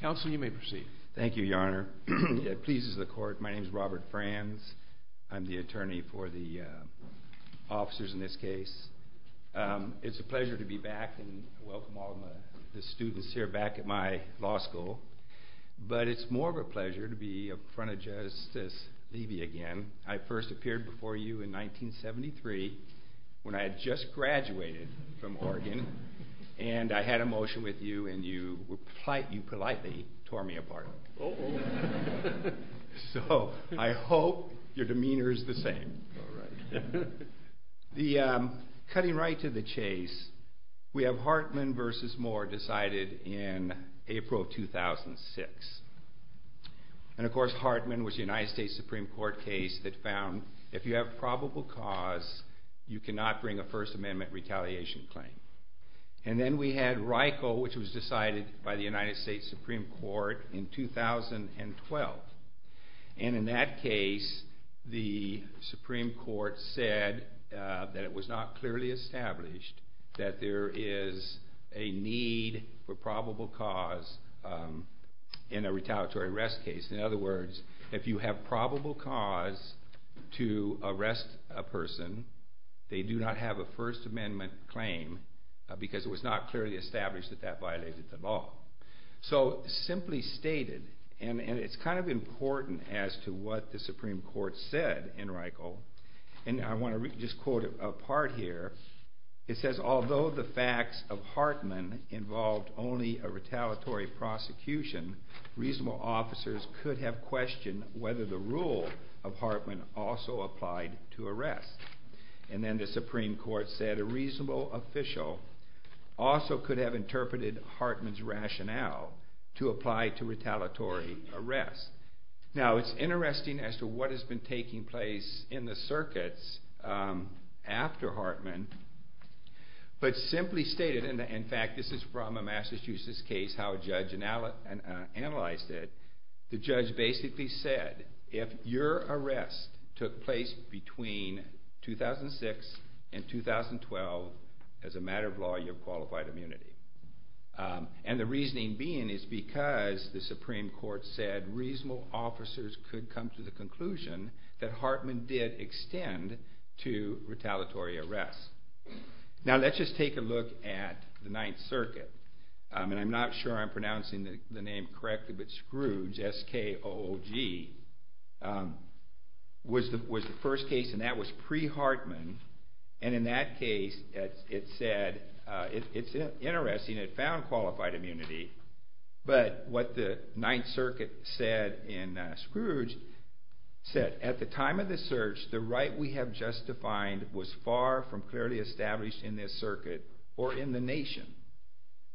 Counsel, you may proceed. Thank you, Your Honor. It pleases the court. My name is Robert Franz. I'm the attorney for the officers in this case. It's a pleasure to be back and welcome all of the students here back at my law school. But it's more of a pleasure to be in front of Justice Levy again. I first appeared before you in 1973 when I had just graduated from Oregon. And I had a motion with you and you politely tore me apart. So I hope your demeanor is the same. All right. Cutting right to the chase, we have Hartman v. Moore decided in April 2006. And of course Hartman was the United States Supreme Court case that found if you have probable cause, you cannot bring a First Amendment retaliation claim. And then we had Reichel, which was decided by the United States Supreme Court in 2012. And in that case, the Supreme Court said that it was not clearly established that there is a need for probable cause in a retaliatory arrest case. In other words, if you have probable cause to arrest a person, they do not have a First Amendment claim because it was not clearly established that that violated the law. So simply stated, and it's kind of important as to what the Supreme Court said in Reichel, and I want to just quote a part here. It says, although the facts of Hartman involved only a retaliatory prosecution, reasonable officers could have questioned whether the rule of Hartman also applied to arrest. And then the Supreme Court said a reasonable official also could have interpreted Hartman's rationale to apply to retaliatory arrest. Now it's interesting as to what has been taking place in the circuits after Hartman, but simply stated, and in fact this is from a Massachusetts case, how a judge analyzed it, the judge basically said, if your arrest took place between 2006 and 2012, as a matter of law, you're qualified immunity. And the reasoning being is because the Supreme Court said reasonable officers could come to the conclusion that Hartman did extend to retaliatory arrest. Now let's just take a look at the Ninth Circuit, and I'm not sure I'm pronouncing the name correctly, but Scrooge, S-K-O-O-G, was the first case, and that was pre-Hartman, and in that case it said, it's interesting, it found qualified immunity, but what the Ninth Circuit said in Scrooge said, at the time of the search the right we have just defined was far from clearly established in this circuit or in the nation.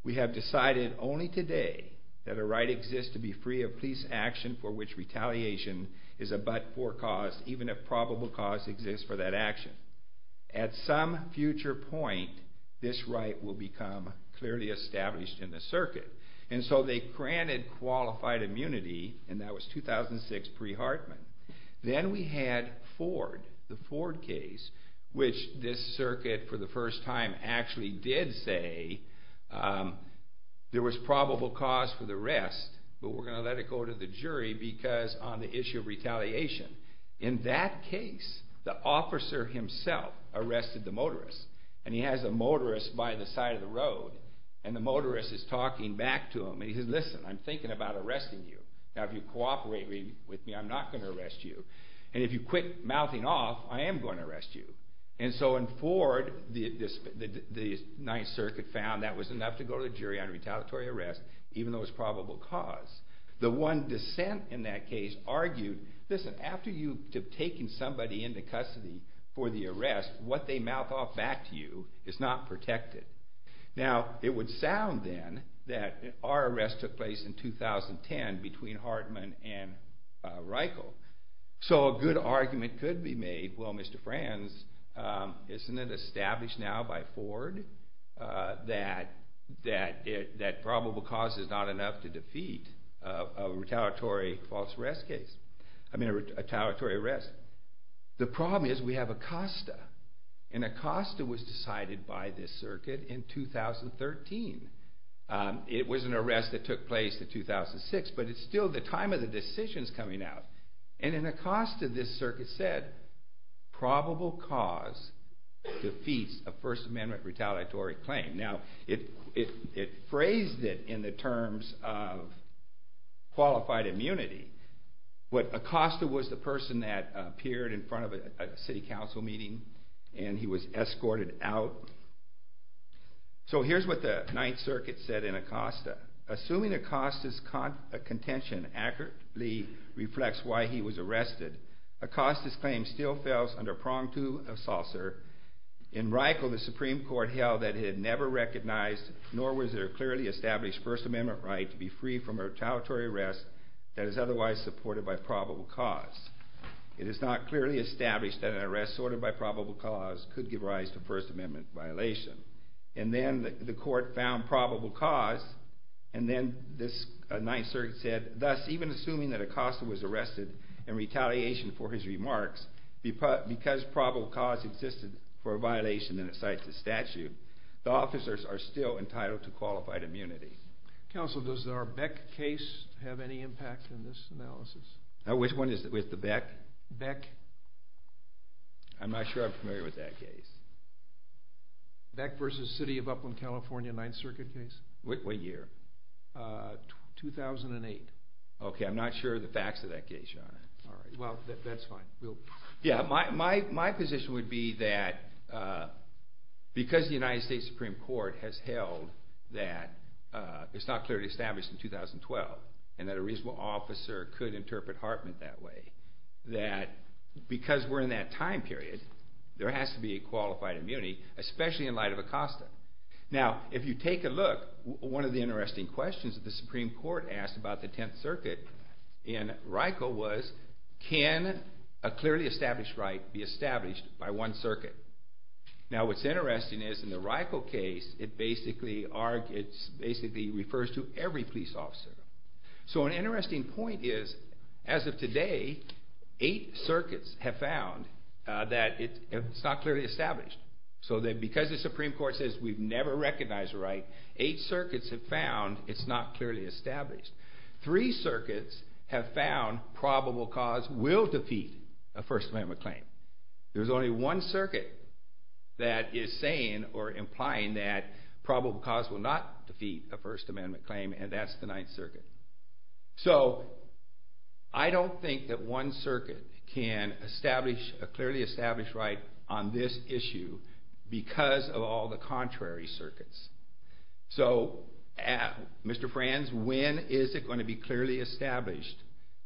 We have decided only today that a right exists to be free of police action for which retaliation is a but-for cause, even if probable cause exists for that action. At some future point this right will become clearly established in the circuit. And so they granted qualified immunity, and that was 2006 pre-Hartman. Then we had Ford, the Ford case, which this circuit for the first time actually did say there was probable cause for the arrest, but we're going to let it go to the jury because on the issue of retaliation. In that case the officer himself arrested the motorist, and he has the motorist by the side of the road, and the motorist is talking back to him, and he says, listen, I'm thinking about arresting you. Now if you cooperate with me I'm not going to arrest you. And if you quit mouthing off I am going to arrest you. And so in Ford the Ninth Circuit found that was enough to go to the jury on retaliatory arrest, even though it was probable cause. The one dissent in that case argued, listen, after you have taken somebody into custody for the arrest, what they mouth off back to you is not protected. Now it would sound then that our arrest took place in 2010 between Hartman and Reichel. So a good argument could be made, well, Mr. Franz, isn't it established now by Ford that probable cause is not enough to defeat a retaliatory false arrest case, I mean a retaliatory arrest. The problem is we have Acosta, and Acosta was decided by this circuit in 2013. It was an arrest that took place in 2006, but it's still the time of the decisions coming out. And in Acosta this circuit said probable cause defeats a First Amendment retaliatory claim. Now it phrased it in the terms of qualified immunity, but Acosta was the person that appeared in front of a city council meeting and he was escorted out. So here's what the Ninth Circuit said in Acosta. Assuming Acosta's contention accurately reflects why he was arrested, Acosta's claim still fells under prong two of Saucer. In Reichel the Supreme Court held that it had never recognized nor was there clearly established First Amendment right to be free from a retaliatory arrest that is otherwise supported by probable cause. It is not clearly established that an arrest sorted by probable cause could give rise to First Amendment violation. And then the court found probable cause, and then this Ninth Circuit said, thus even assuming that Acosta was arrested in retaliation for his remarks, because probable cause existed for a violation and it cites a statute, the officers are still entitled to qualified immunity. Counsel, does our Beck case have any impact in this analysis? Which one is it, with the Beck? Beck. I'm not sure I'm familiar with that case. Beck versus City of Upland, California Ninth Circuit case? What year? 2008. Okay, I'm not sure of the facts of that case, Your Honor. Well, that's fine. Yeah, my position would be that because the United States Supreme Court has held that it's not clearly established in 2012, and that a reasonable officer could interpret Hartman that way, that because we're in that time period, there has to be a qualified immunity, especially in light of Acosta. Now, if you take a look, one of the interesting questions that the Supreme Court asked about the Tenth Circuit in RICO was, can a clearly established right be established by one circuit? Now, what's interesting is in the RICO case, it basically refers to every police officer. So an interesting point is, as of today, eight circuits have found that it's not clearly established. So because the Supreme Court says we've never recognized a right, eight circuits have found it's not clearly established. Three circuits have found probable cause will defeat a First Amendment claim. There's only one circuit that is saying or implying that probable cause will not defeat a First Amendment claim, and that's the Ninth Circuit. So I don't think that one circuit can establish a clearly established right on this issue because of all the contrary circuits. So, Mr. Franz, when is it going to be clearly established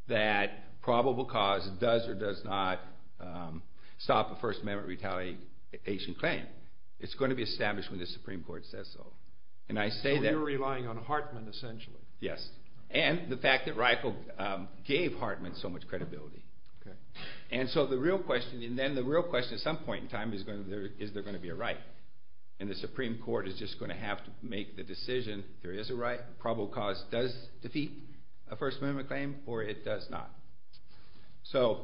that probable cause does or does not stop a First Amendment retaliation claim? It's going to be established when the Supreme Court says so. So you're relying on Hartman, essentially. Yes, and the fact that RICO gave Hartman so much credibility. Okay. And so the real question, and then the real question at some point in time, is there going to be a right? And the Supreme Court is just going to have to make the decision, there is a right, probable cause does defeat a First Amendment claim or it does not. So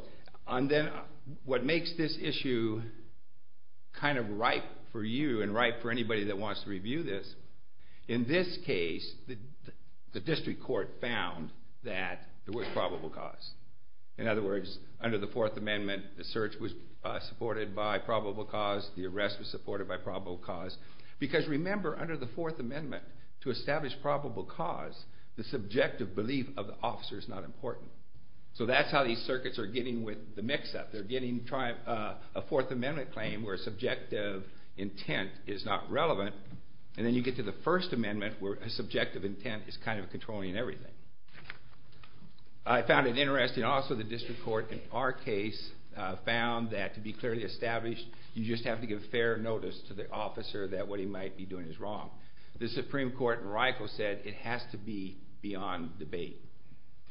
then what makes this issue kind of ripe for you and ripe for anybody that wants to review this? In this case, the district court found that there was probable cause. In other words, under the Fourth Amendment, the search was supported by probable cause, the arrest was supported by probable cause. Because remember, under the Fourth Amendment, to establish probable cause, the subjective belief of the officer is not important. So that's how these circuits are getting with the mix-up. They're getting a Fourth Amendment claim where subjective intent is not relevant, and then you get to the First Amendment where subjective intent is kind of controlling everything. I found it interesting also the district court in our case found that to be clearly established, you just have to give fair notice to the officer that what he might be doing is wrong. The Supreme Court in RICO said it has to be beyond debate.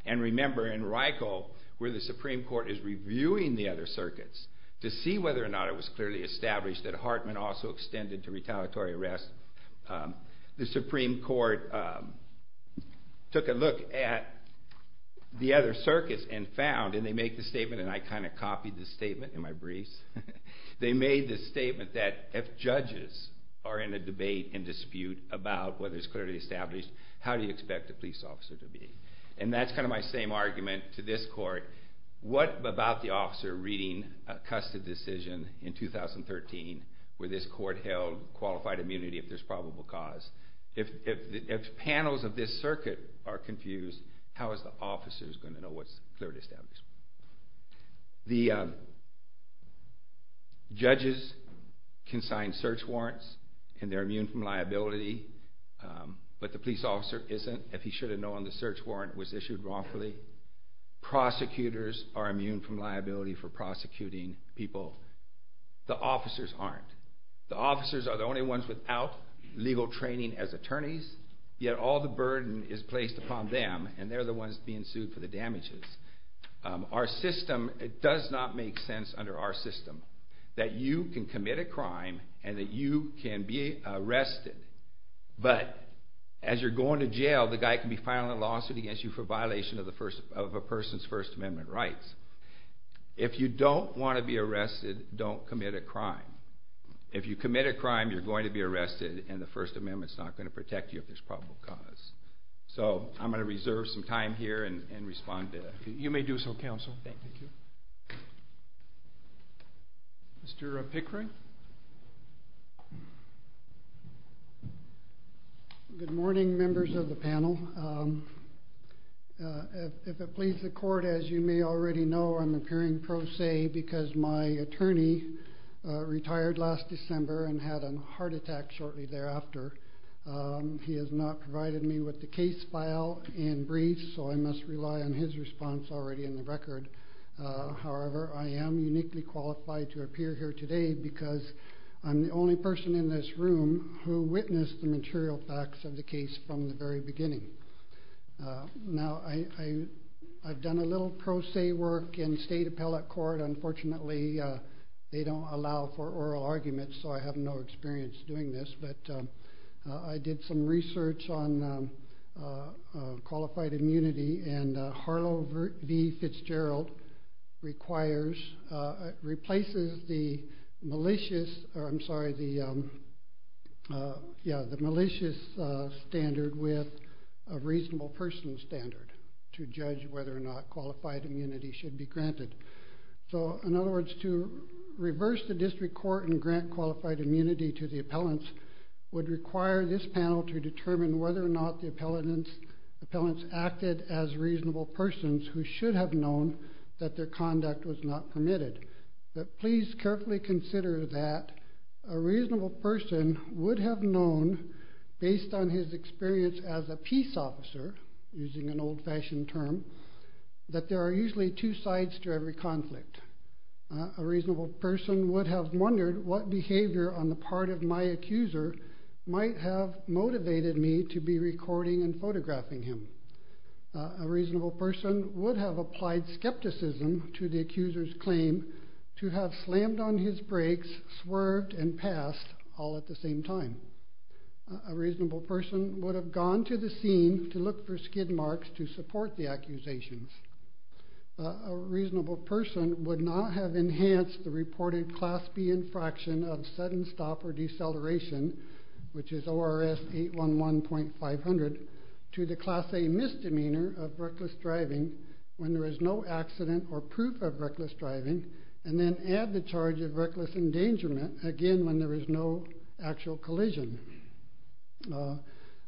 And remember, in RICO, where the Supreme Court is reviewing the other circuits to see whether or not it was clearly established that Hartman also extended to retaliatory arrest, the Supreme Court took a look at the other circuits and found, and they make the statement, and I kind of copied the statement in my briefs, they made the statement that if judges are in a debate and dispute about whether it's clearly established, how do you expect the police officer to be? And that's kind of my same argument to this court. What about the officer reading a custody decision in 2013 where this court held qualified immunity if there's probable cause? If panels of this circuit are confused, how is the officer going to know what's clearly established? The judges can sign search warrants and they're immune from liability, but the police officer isn't, if he should have known the search warrant was issued wrongfully. Prosecutors are immune from liability for prosecuting people. The officers aren't. The officers are the only ones without legal training as attorneys, yet all the burden is placed upon them, and they're the ones being sued for the damages. Our system, it does not make sense under our system that you can commit a crime and that you can be arrested, but as you're going to jail, the guy can be filing a lawsuit against you for violation of a person's First Amendment rights. If you don't want to be arrested, don't commit a crime. If you commit a crime, you're going to be arrested, and the First Amendment's not going to protect you if there's probable cause. So I'm going to reserve some time here and respond to that. You may do so, counsel. Mr. Pickering? Good morning, members of the panel. If it pleases the court, as you may already know, I'm appearing pro se because my attorney retired last December and had a heart attack shortly thereafter. He has not provided me with the case file and briefs, so I must rely on his response already in the record. However, I am uniquely qualified to appear here today because I'm the only person in this room who witnessed the material facts of the case from the very beginning. Now, I've done a little pro se work in state appellate court. Unfortunately, they don't allow for oral arguments, so I have no experience doing this, but I did some research on qualified immunity, and Harlow v. Fitzgerald replaces the malicious standard with a reasonable personal standard to judge whether or not qualified immunity should be granted. So, in other words, to reverse the district court and grant qualified immunity to the appellants would require this panel to determine whether or not the appellants acted as reasonable persons who should have known that their conduct was not permitted. But please carefully consider that a reasonable person would have known, based on his experience as a peace officer, using an old-fashioned term, that there are usually two sides to every conflict. A reasonable person would have wondered what behavior on the part of my accuser might have motivated me to be recording and photographing him. A reasonable person would have applied skepticism to the accuser's claim to have slammed on his brakes, swerved, and passed all at the same time. A reasonable person would have gone to the scene to look for skid marks to support the accusations. A reasonable person would not have enhanced the reported Class B infraction of sudden stop or deceleration, which is ORS 811.500, to the Class A misdemeanor of reckless driving when there is no accident or proof of reckless driving, and then add the charge of reckless endangerment, again, when there is no actual collision.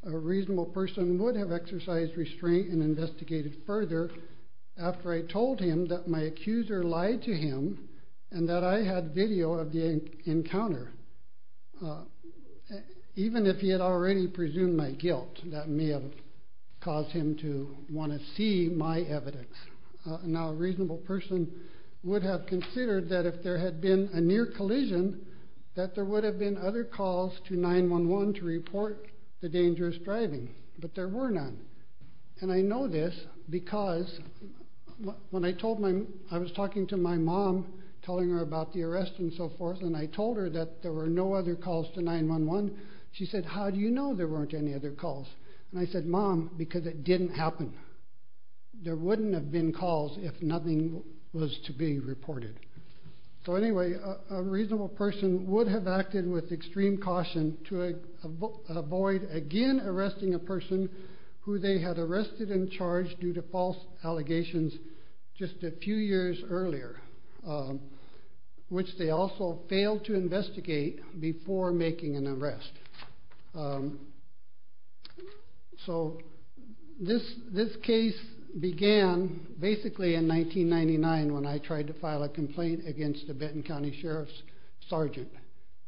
A reasonable person would have exercised restraint and investigated further after I told him that my accuser lied to him and that I had video of the encounter, even if he had already presumed my guilt. That may have caused him to want to see my evidence. Now, a reasonable person would have considered that if there had been a near collision, that there would have been other calls to 9-1-1 to report the dangerous driving, but there were none. And I know this because when I told my... I was talking to my mom, telling her about the arrest and so forth, and I told her that there were no other calls to 9-1-1, she said, how do you know there weren't any other calls? And I said, Mom, because it didn't happen. There wouldn't have been calls if nothing was to be reported. So anyway, a reasonable person would have acted with extreme caution to avoid again arresting a person who they had arrested and charged due to false allegations just a few years earlier, which they also failed to investigate before making an arrest. So this case began basically in 1999 when I tried to file a complaint against a Benton County Sheriff's sergeant.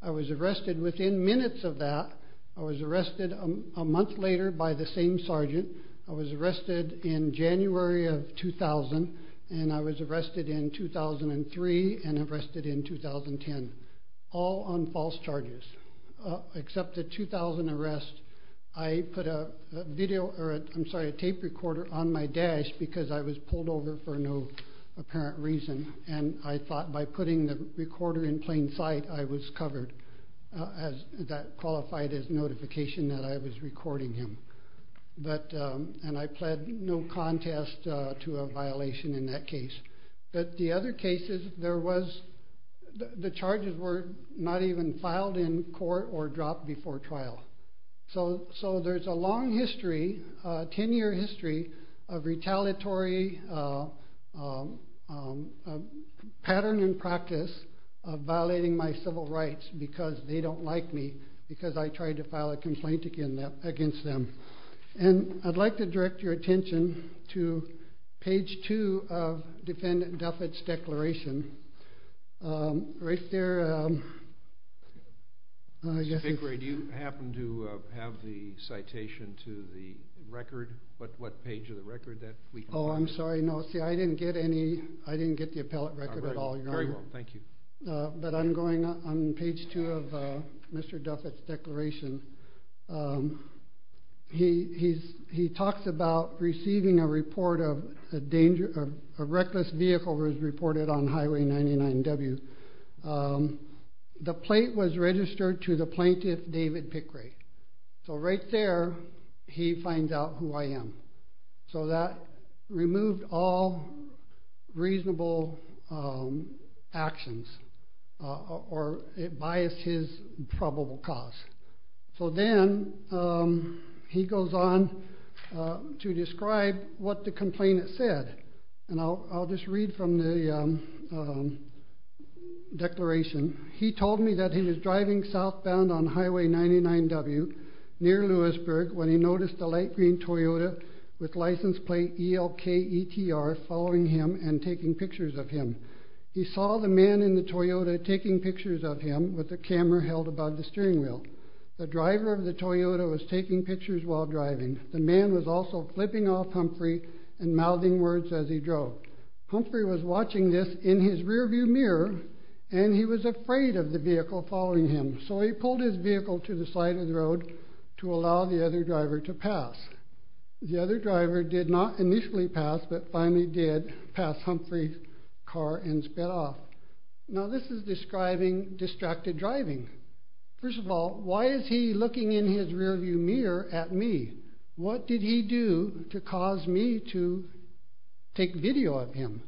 I was arrested within minutes of that. I was arrested a month later by the same sergeant. I was arrested in January of 2000, and I was arrested in 2003 and arrested in 2010, all on false charges. Except the 2000 arrest, I put a tape recorder on my dash because I was pulled over for no apparent reason, and I thought by putting the recorder in plain sight, I was covered, as that qualified as notification that I was recording him. And I pled no contest to a violation in that case. But the other cases, the charges were not even filed in court or dropped before trial. So there's a long history, a 10-year history, of retaliatory pattern and practice of violating my civil rights because they don't like me because I tried to file a complaint against them. And I'd like to direct your attention to page 2 of Defendant Duffet's declaration. Right there... Mr. Vickrey, do you happen to have the citation to the record? What page of the record? Oh, I'm sorry, no. See, I didn't get the appellate record at all, Your Honor. Very well, thank you. But I'm going on page 2 of Mr. Duffet's declaration. He talks about receiving a report of a reckless vehicle as reported on Highway 99W. The plate was registered to the plaintiff, David Pickrey. So right there, he finds out who I am. So that removed all reasonable actions, or it biased his probable cause. So then he goes on to describe what the complainant said. And I'll just read from the declaration. He told me that he was driving southbound on Highway 99W near Lewisburg when he noticed a light green Toyota with license plate ELKETR following him and taking pictures of him. He saw the man in the Toyota taking pictures of him with the camera held above the steering wheel. The driver of the Toyota was taking pictures while driving. The man was also flipping off Humphrey and mouthing words as he drove. Humphrey was watching this in his rearview mirror, and he was afraid of the vehicle following him. So he pulled his vehicle to the side of the road to allow the other driver to pass. The other driver did not initially pass, but finally did pass Humphrey's car and sped off. Now this is describing distracted driving. First of all, why is he looking in his rearview mirror at me? What did he do to cause me to take video of him?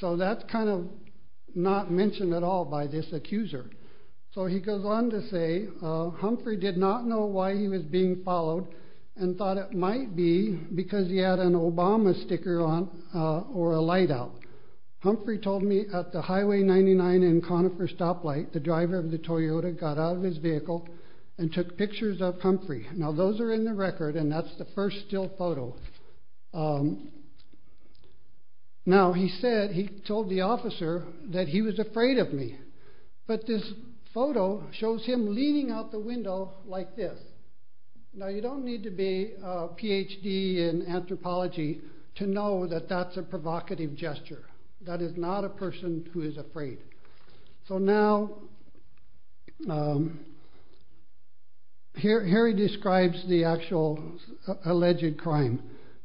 So that's kind of not mentioned at all by this accuser. So he goes on to say, Humphrey did not know why he was being followed and thought it might be because he had an Obama sticker on or a light out. Humphrey told me at the Highway 99 and Conifer stoplight, the driver of the Toyota got out of his vehicle and took pictures of Humphrey. Now those are in the record, and that's the first still photo. Now he said he told the officer that he was afraid of me, but this photo shows him leaning out the window like this. Now you don't need to be a Ph.D. in anthropology to know that that's a provocative gesture. That is not a person who is afraid. So now, here he describes the actual alleged crime.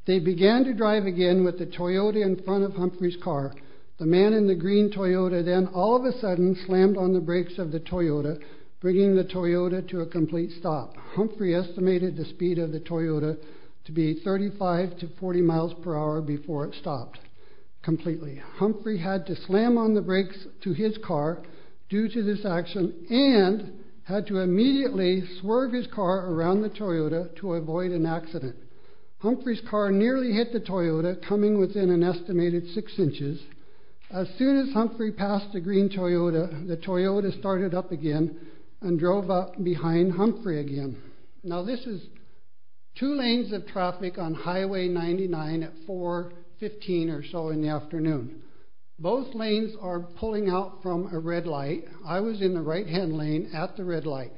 They began to drive again with the Toyota in front of Humphrey's car. The man in the green Toyota then all of a sudden slammed on the brakes of the Toyota, bringing the Toyota to a complete stop. Humphrey estimated the speed of the Toyota to be 35 to 40 miles per hour before it stopped completely. Humphrey had to slam on the brakes to his car due to this action and had to immediately swerve his car around the Toyota to avoid an accident. Humphrey's car nearly hit the Toyota, coming within an estimated 6 inches. As soon as Humphrey passed the green Toyota, the Toyota started up again and drove up behind Humphrey again. Now this is two lanes of traffic on Highway 99 at 4.15 or so in the afternoon. Both lanes are pulling out from a red light. I was in the right-hand lane at the red light.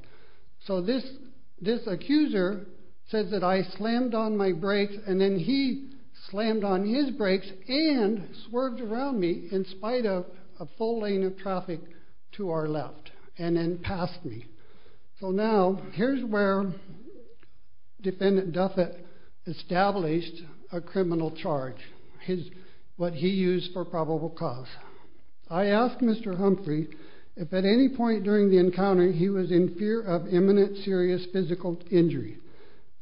So this accuser says that I slammed on my brakes and then he slammed on his brakes and swerved around me in spite of a full lane of traffic to our left and then passed me. So now here's where Defendant Duffet established a criminal charge, what he used for probable cause. I asked Mr. Humphrey if at any point during the encounter he was in fear of imminent serious physical injury.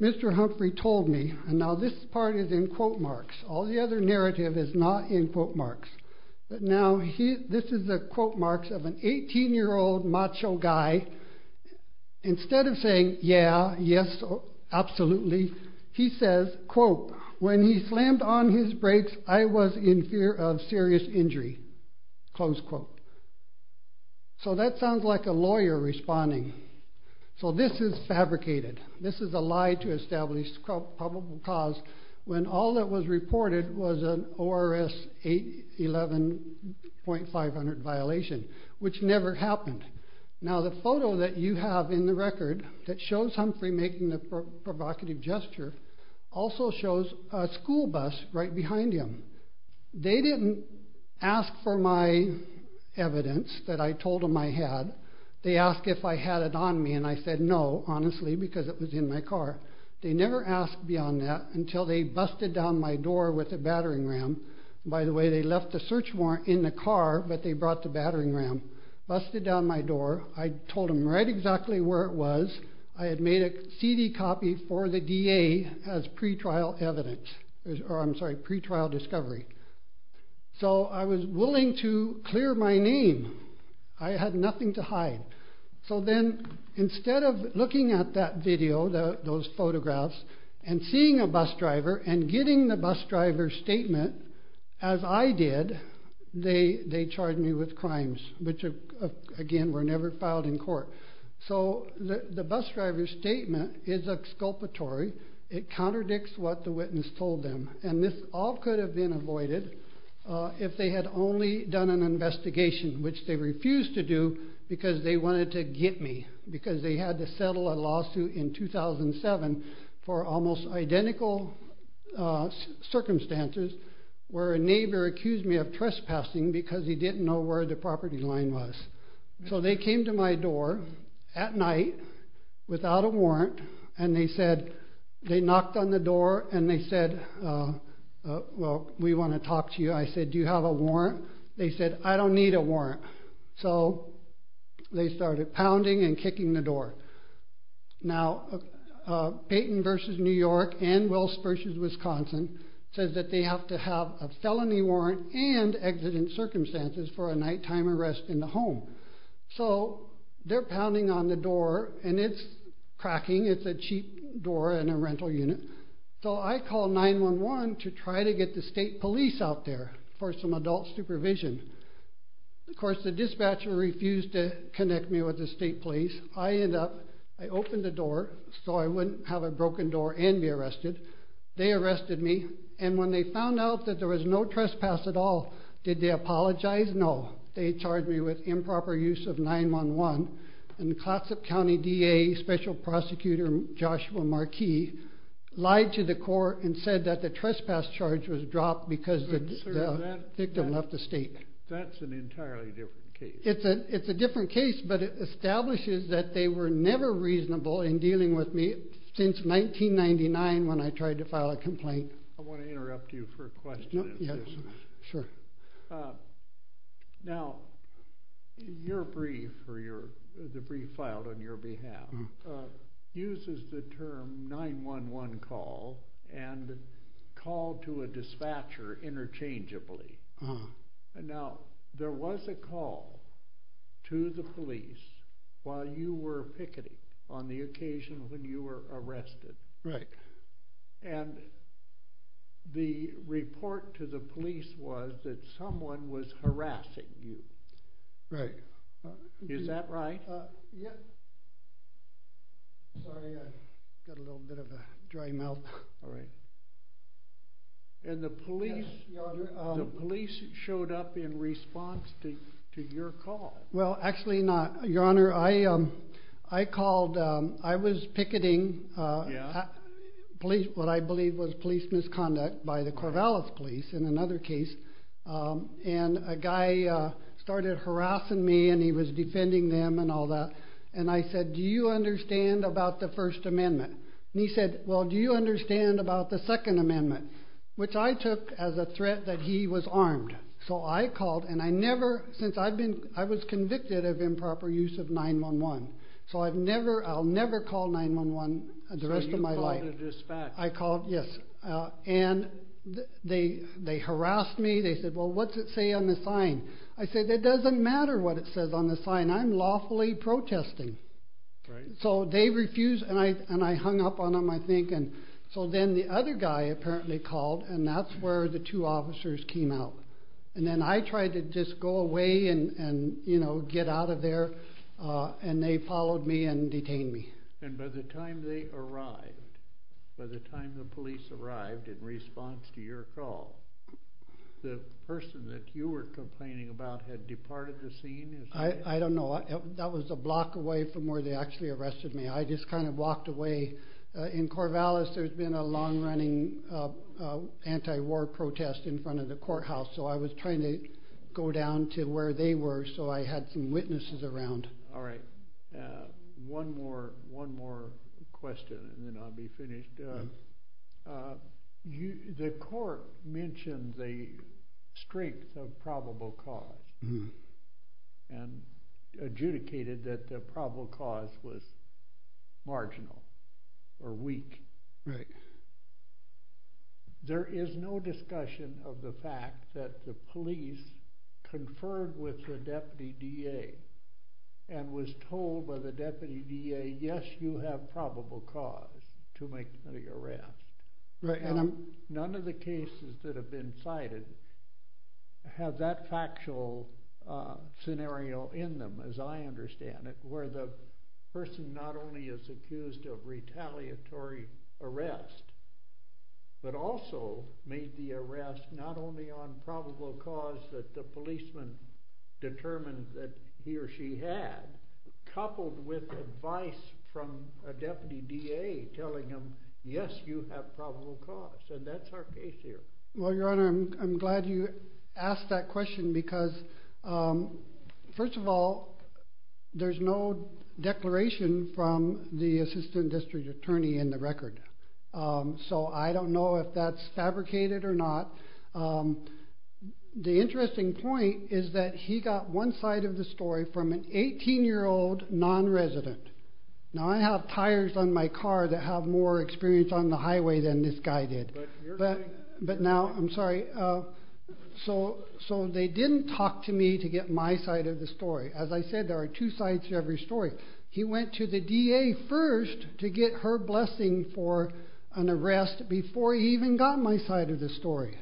Mr. Humphrey told me, and now this part is in quote marks, all the other narrative is not in quote marks, but now this is the quote marks of an 18-year-old macho guy. Instead of saying, yeah, yes, absolutely, he says, quote, when he slammed on his brakes, I was in fear of serious injury, close quote. So that sounds like a lawyer responding. So this is fabricated. This is a lie to establish probable cause when all that was reported was an ORS 811.500 violation, which never happened. Now the photo that you have in the record that shows Humphrey making the provocative gesture also shows a school bus right behind him. They didn't ask for my evidence that I told them I had. They asked if I had it on me, and I said no, honestly, because it was in my car. They never asked beyond that until they busted down my door with a battering ram. By the way, they left the search warrant in the car, but they brought the battering ram. Busted down my door. I told them right exactly where it was. I had made a CD copy for the DA as pretrial evidence, or I'm sorry, pretrial discovery. So I was willing to clear my name. I had nothing to hide. So then instead of looking at that video, those photographs, and seeing a bus driver and getting the bus driver's statement, as I did, they charged me with crimes, which again were never filed in court. So the bus driver's statement is exculpatory. It contradicts what the witness told them, and this all could have been avoided if they had only done an investigation, which they refused to do because they wanted to get me, because they had to settle a lawsuit in 2007 for almost identical circumstances where a neighbor accused me of trespassing because he didn't know where the property line was. So they came to my door at night without a warrant, and they knocked on the door, and they said, well, we want to talk to you. I said, do you have a warrant? They said, I don't need a warrant. So they started pounding and kicking the door. Now, Payton v. New York and Wills v. Wisconsin says that they have to have a felony warrant and exigent circumstances for a nighttime arrest in the home. So they're pounding on the door, and it's cracking. It's a cheap door in a rental unit. So I call 911 to try to get the state police out there for some adult supervision. Of course, the dispatcher refused to connect me with the state police. I ended up, I opened the door so I wouldn't have a broken door and be arrested. They arrested me, and when they found out that there was no trespass at all, did they apologize? No. They charged me with improper use of 911, and Clatsop County DA Special Prosecutor Joshua Marquis lied to the court and said that the trespass charge was dropped because the victim left the state. That's an entirely different case. It's a different case, but it establishes that they were never reasonable in dealing with me since 1999 when I tried to file a complaint. I want to interrupt you for a question. Sure. Now, your brief, or the brief filed on your behalf, uses the term 911 call and call to a dispatcher interchangeably. Now, there was a call to the police while you were picketing on the occasion when you were arrested. Right. And the report to the police was that someone was harassing you. Right. Is that right? Yeah. Sorry, I got a little bit of a dry mouth. All right. And the police showed up in response to your call. Well, actually not, Your Honor. I called. I was picketing what I believe was police misconduct by the Corvallis police in another case, and a guy started harassing me, and he was defending them and all that. And I said, do you understand about the First Amendment? And he said, well, do you understand about the Second Amendment, which I took as a threat that he was armed. So I called, and I never, since I've been, I was convicted of improper use of 911. So I've never, I'll never call 911 the rest of my life. So you called a dispatcher. I called, yes. And they harassed me. They said, well, what's it say on the sign? I said, it doesn't matter what it says on the sign. I'm lawfully protesting. Right. So they refused, and I hung up on them, I think. So then the other guy apparently called, and that's where the two officers came out. And then I tried to just go away and get out of there, and they followed me and detained me. And by the time they arrived, by the time the police arrived in response to your call, the person that you were complaining about had departed the scene? I don't know. That was a block away from where they actually arrested me. I just kind of walked away. In Corvallis, there's been a long-running anti-war protest in front of the courthouse. So I was trying to go down to where they were so I had some witnesses around. All right. One more question, and then I'll be finished. The court mentioned the strength of probable cause and adjudicated that the probable cause was marginal or weak. Right. There is no discussion of the fact that the police conferred with the deputy DA and was told by the deputy DA, yes, you have probable cause to make the arrest. None of the cases that have been cited have that factual scenario in them, as I understand it, where the person not only is accused of retaliatory arrest but also made the arrest not only on probable cause that the policeman determined that he or she had, coupled with advice from a deputy DA telling him, yes, you have probable cause, and that's our case here. Well, Your Honor, I'm glad you asked that question because, first of all, there's no declaration from the assistant district attorney in the record. So I don't know if that's fabricated or not. The interesting point is that he got one side of the story from an 18-year-old non-resident. Now, I have tires on my car that have more experience on the highway than this guy did. But now, I'm sorry, so they didn't talk to me to get my side of the story. As I said, there are two sides to every story. He went to the DA first to get her blessing for an arrest before he even got my side of the story.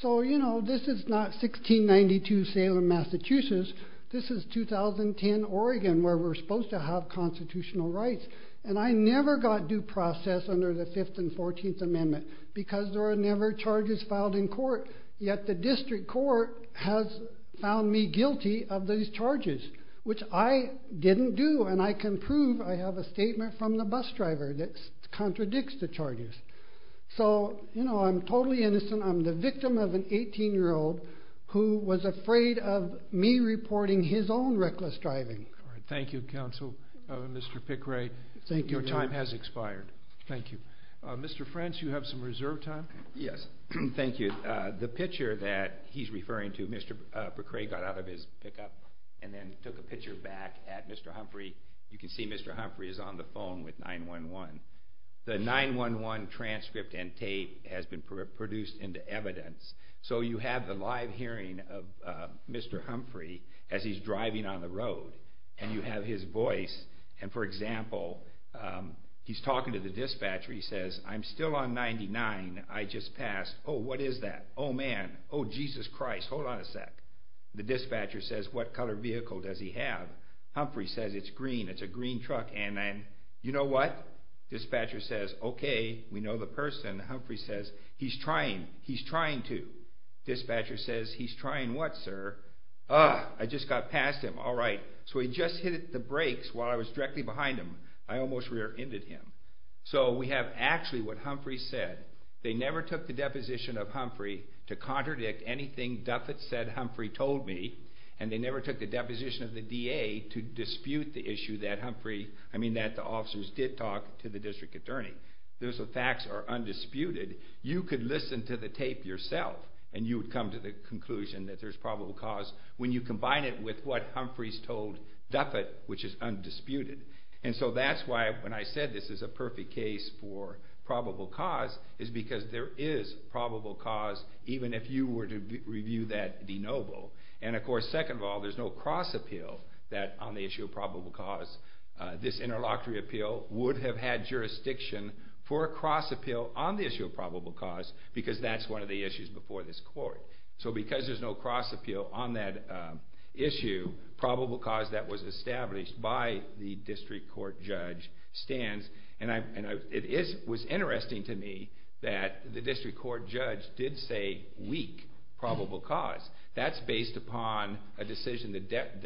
So, you know, this is not 1692 Salem, Massachusetts. This is 2010 Oregon, where we're supposed to have constitutional rights. And I never got due process under the 5th and 14th Amendment because there are never charges filed in court. Yet the district court has found me guilty of these charges, which I didn't do, and I can prove. I have a statement from the bus driver that contradicts the charges. So, you know, I'm totally innocent. I'm the victim of an 18-year-old who was afraid of me reporting his own reckless driving. Thank you, Counsel, Mr. Pickray. Your time has expired. Thank you. Mr. French, you have some reserve time. Yes, thank you. The picture that he's referring to, Mr. Pickray got out of his pickup and then took a picture back at Mr. Humphrey. You can see Mr. Humphrey is on the phone with 911. The 911 transcript and tape has been produced into evidence. So you have the live hearing of Mr. Humphrey as he's driving on the road, and you have his voice. And, for example, he's talking to the dispatcher. He says, I'm still on 99. I just passed. Oh, what is that? Oh, man. Oh, Jesus Christ. Hold on a sec. The dispatcher says, What color vehicle does he have? Humphrey says, It's green. It's a green truck. And then, you know what? Dispatcher says, Okay, we know the person. Humphrey says, He's trying. He's trying to. Dispatcher says, He's trying what, sir? Ah, I just got past him. All right. So he just hit the brakes while I was directly behind him. I almost rear-ended him. So we have actually what Humphrey said. They never took the deposition of Humphrey to contradict anything Duffet said Humphrey told me, and they never took the deposition of the DA to dispute the issue that Humphrey, I mean that the officers did talk to the district attorney. Those facts are undisputed. You could listen to the tape yourself, and you would come to the conclusion that there's probable cause when you combine it with what Humphrey's told Duffet, which is undisputed. And so that's why when I said this is a perfect case for probable cause is because there is probable cause, even if you were to review that de novo. And of course, second of all, there's no cross-appeal on the issue of probable cause. This interlocutory appeal would have had jurisdiction for a cross-appeal on the issue of probable cause because that's one of the issues before this court. So because there's no cross-appeal on that issue, probable cause that was established by the district court judge stands. And it was interesting to me that the district court judge did say weak probable cause. That's based upon a decision, the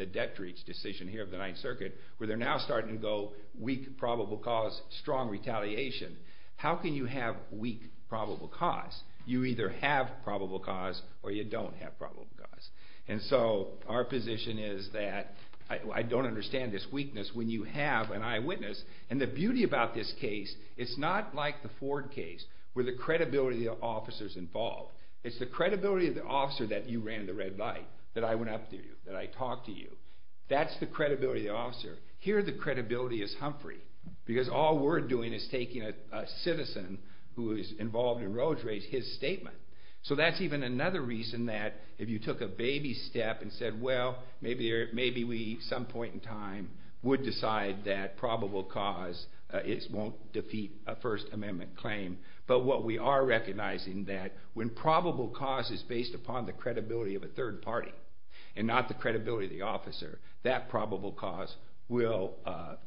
Detrich decision here of the Ninth Circuit, where they're now starting to go weak probable cause, strong retaliation. How can you have weak probable cause? You either have probable cause or you don't have probable cause. And so our position is that I don't understand this weakness when you have an eyewitness. And the beauty about this case, it's not like the Ford case where the credibility of the officer's involved. It's the credibility of the officer that you ran in the red light, that I went up to you, that I talked to you. That's the credibility of the officer. Here, the credibility is Humphrey because all we're doing is taking a citizen who is involved in roads raids, his statement. So that's even another reason that if you took a baby step and said, well, maybe we, some point in time, would decide that probable cause won't defeat a First Amendment claim. But what we are recognizing that when probable cause is based upon the credibility of a third party and not the credibility of the officer, that probable cause will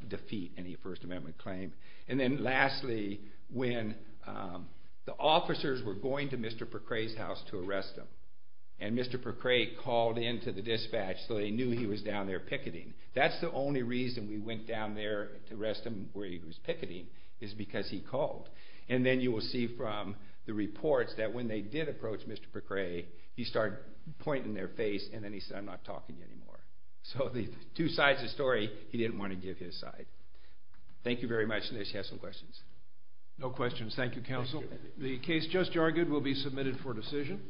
defeat any First Amendment claim. And then lastly, when the officers were going to Mr. Percre's house to arrest him and Mr. Percre called into the dispatch so they knew he was down there picketing, that's the only reason we went down there to arrest him where he was picketing is because he called. And then you will see from the reports that when they did approach Mr. Percre, he started pointing their face and then he said, I'm not talking to you anymore. So the two sides of the story, he didn't want to give his side. Thank you very much, unless you have some questions. No questions. Thank you, counsel. The case just argued will be submitted for decision.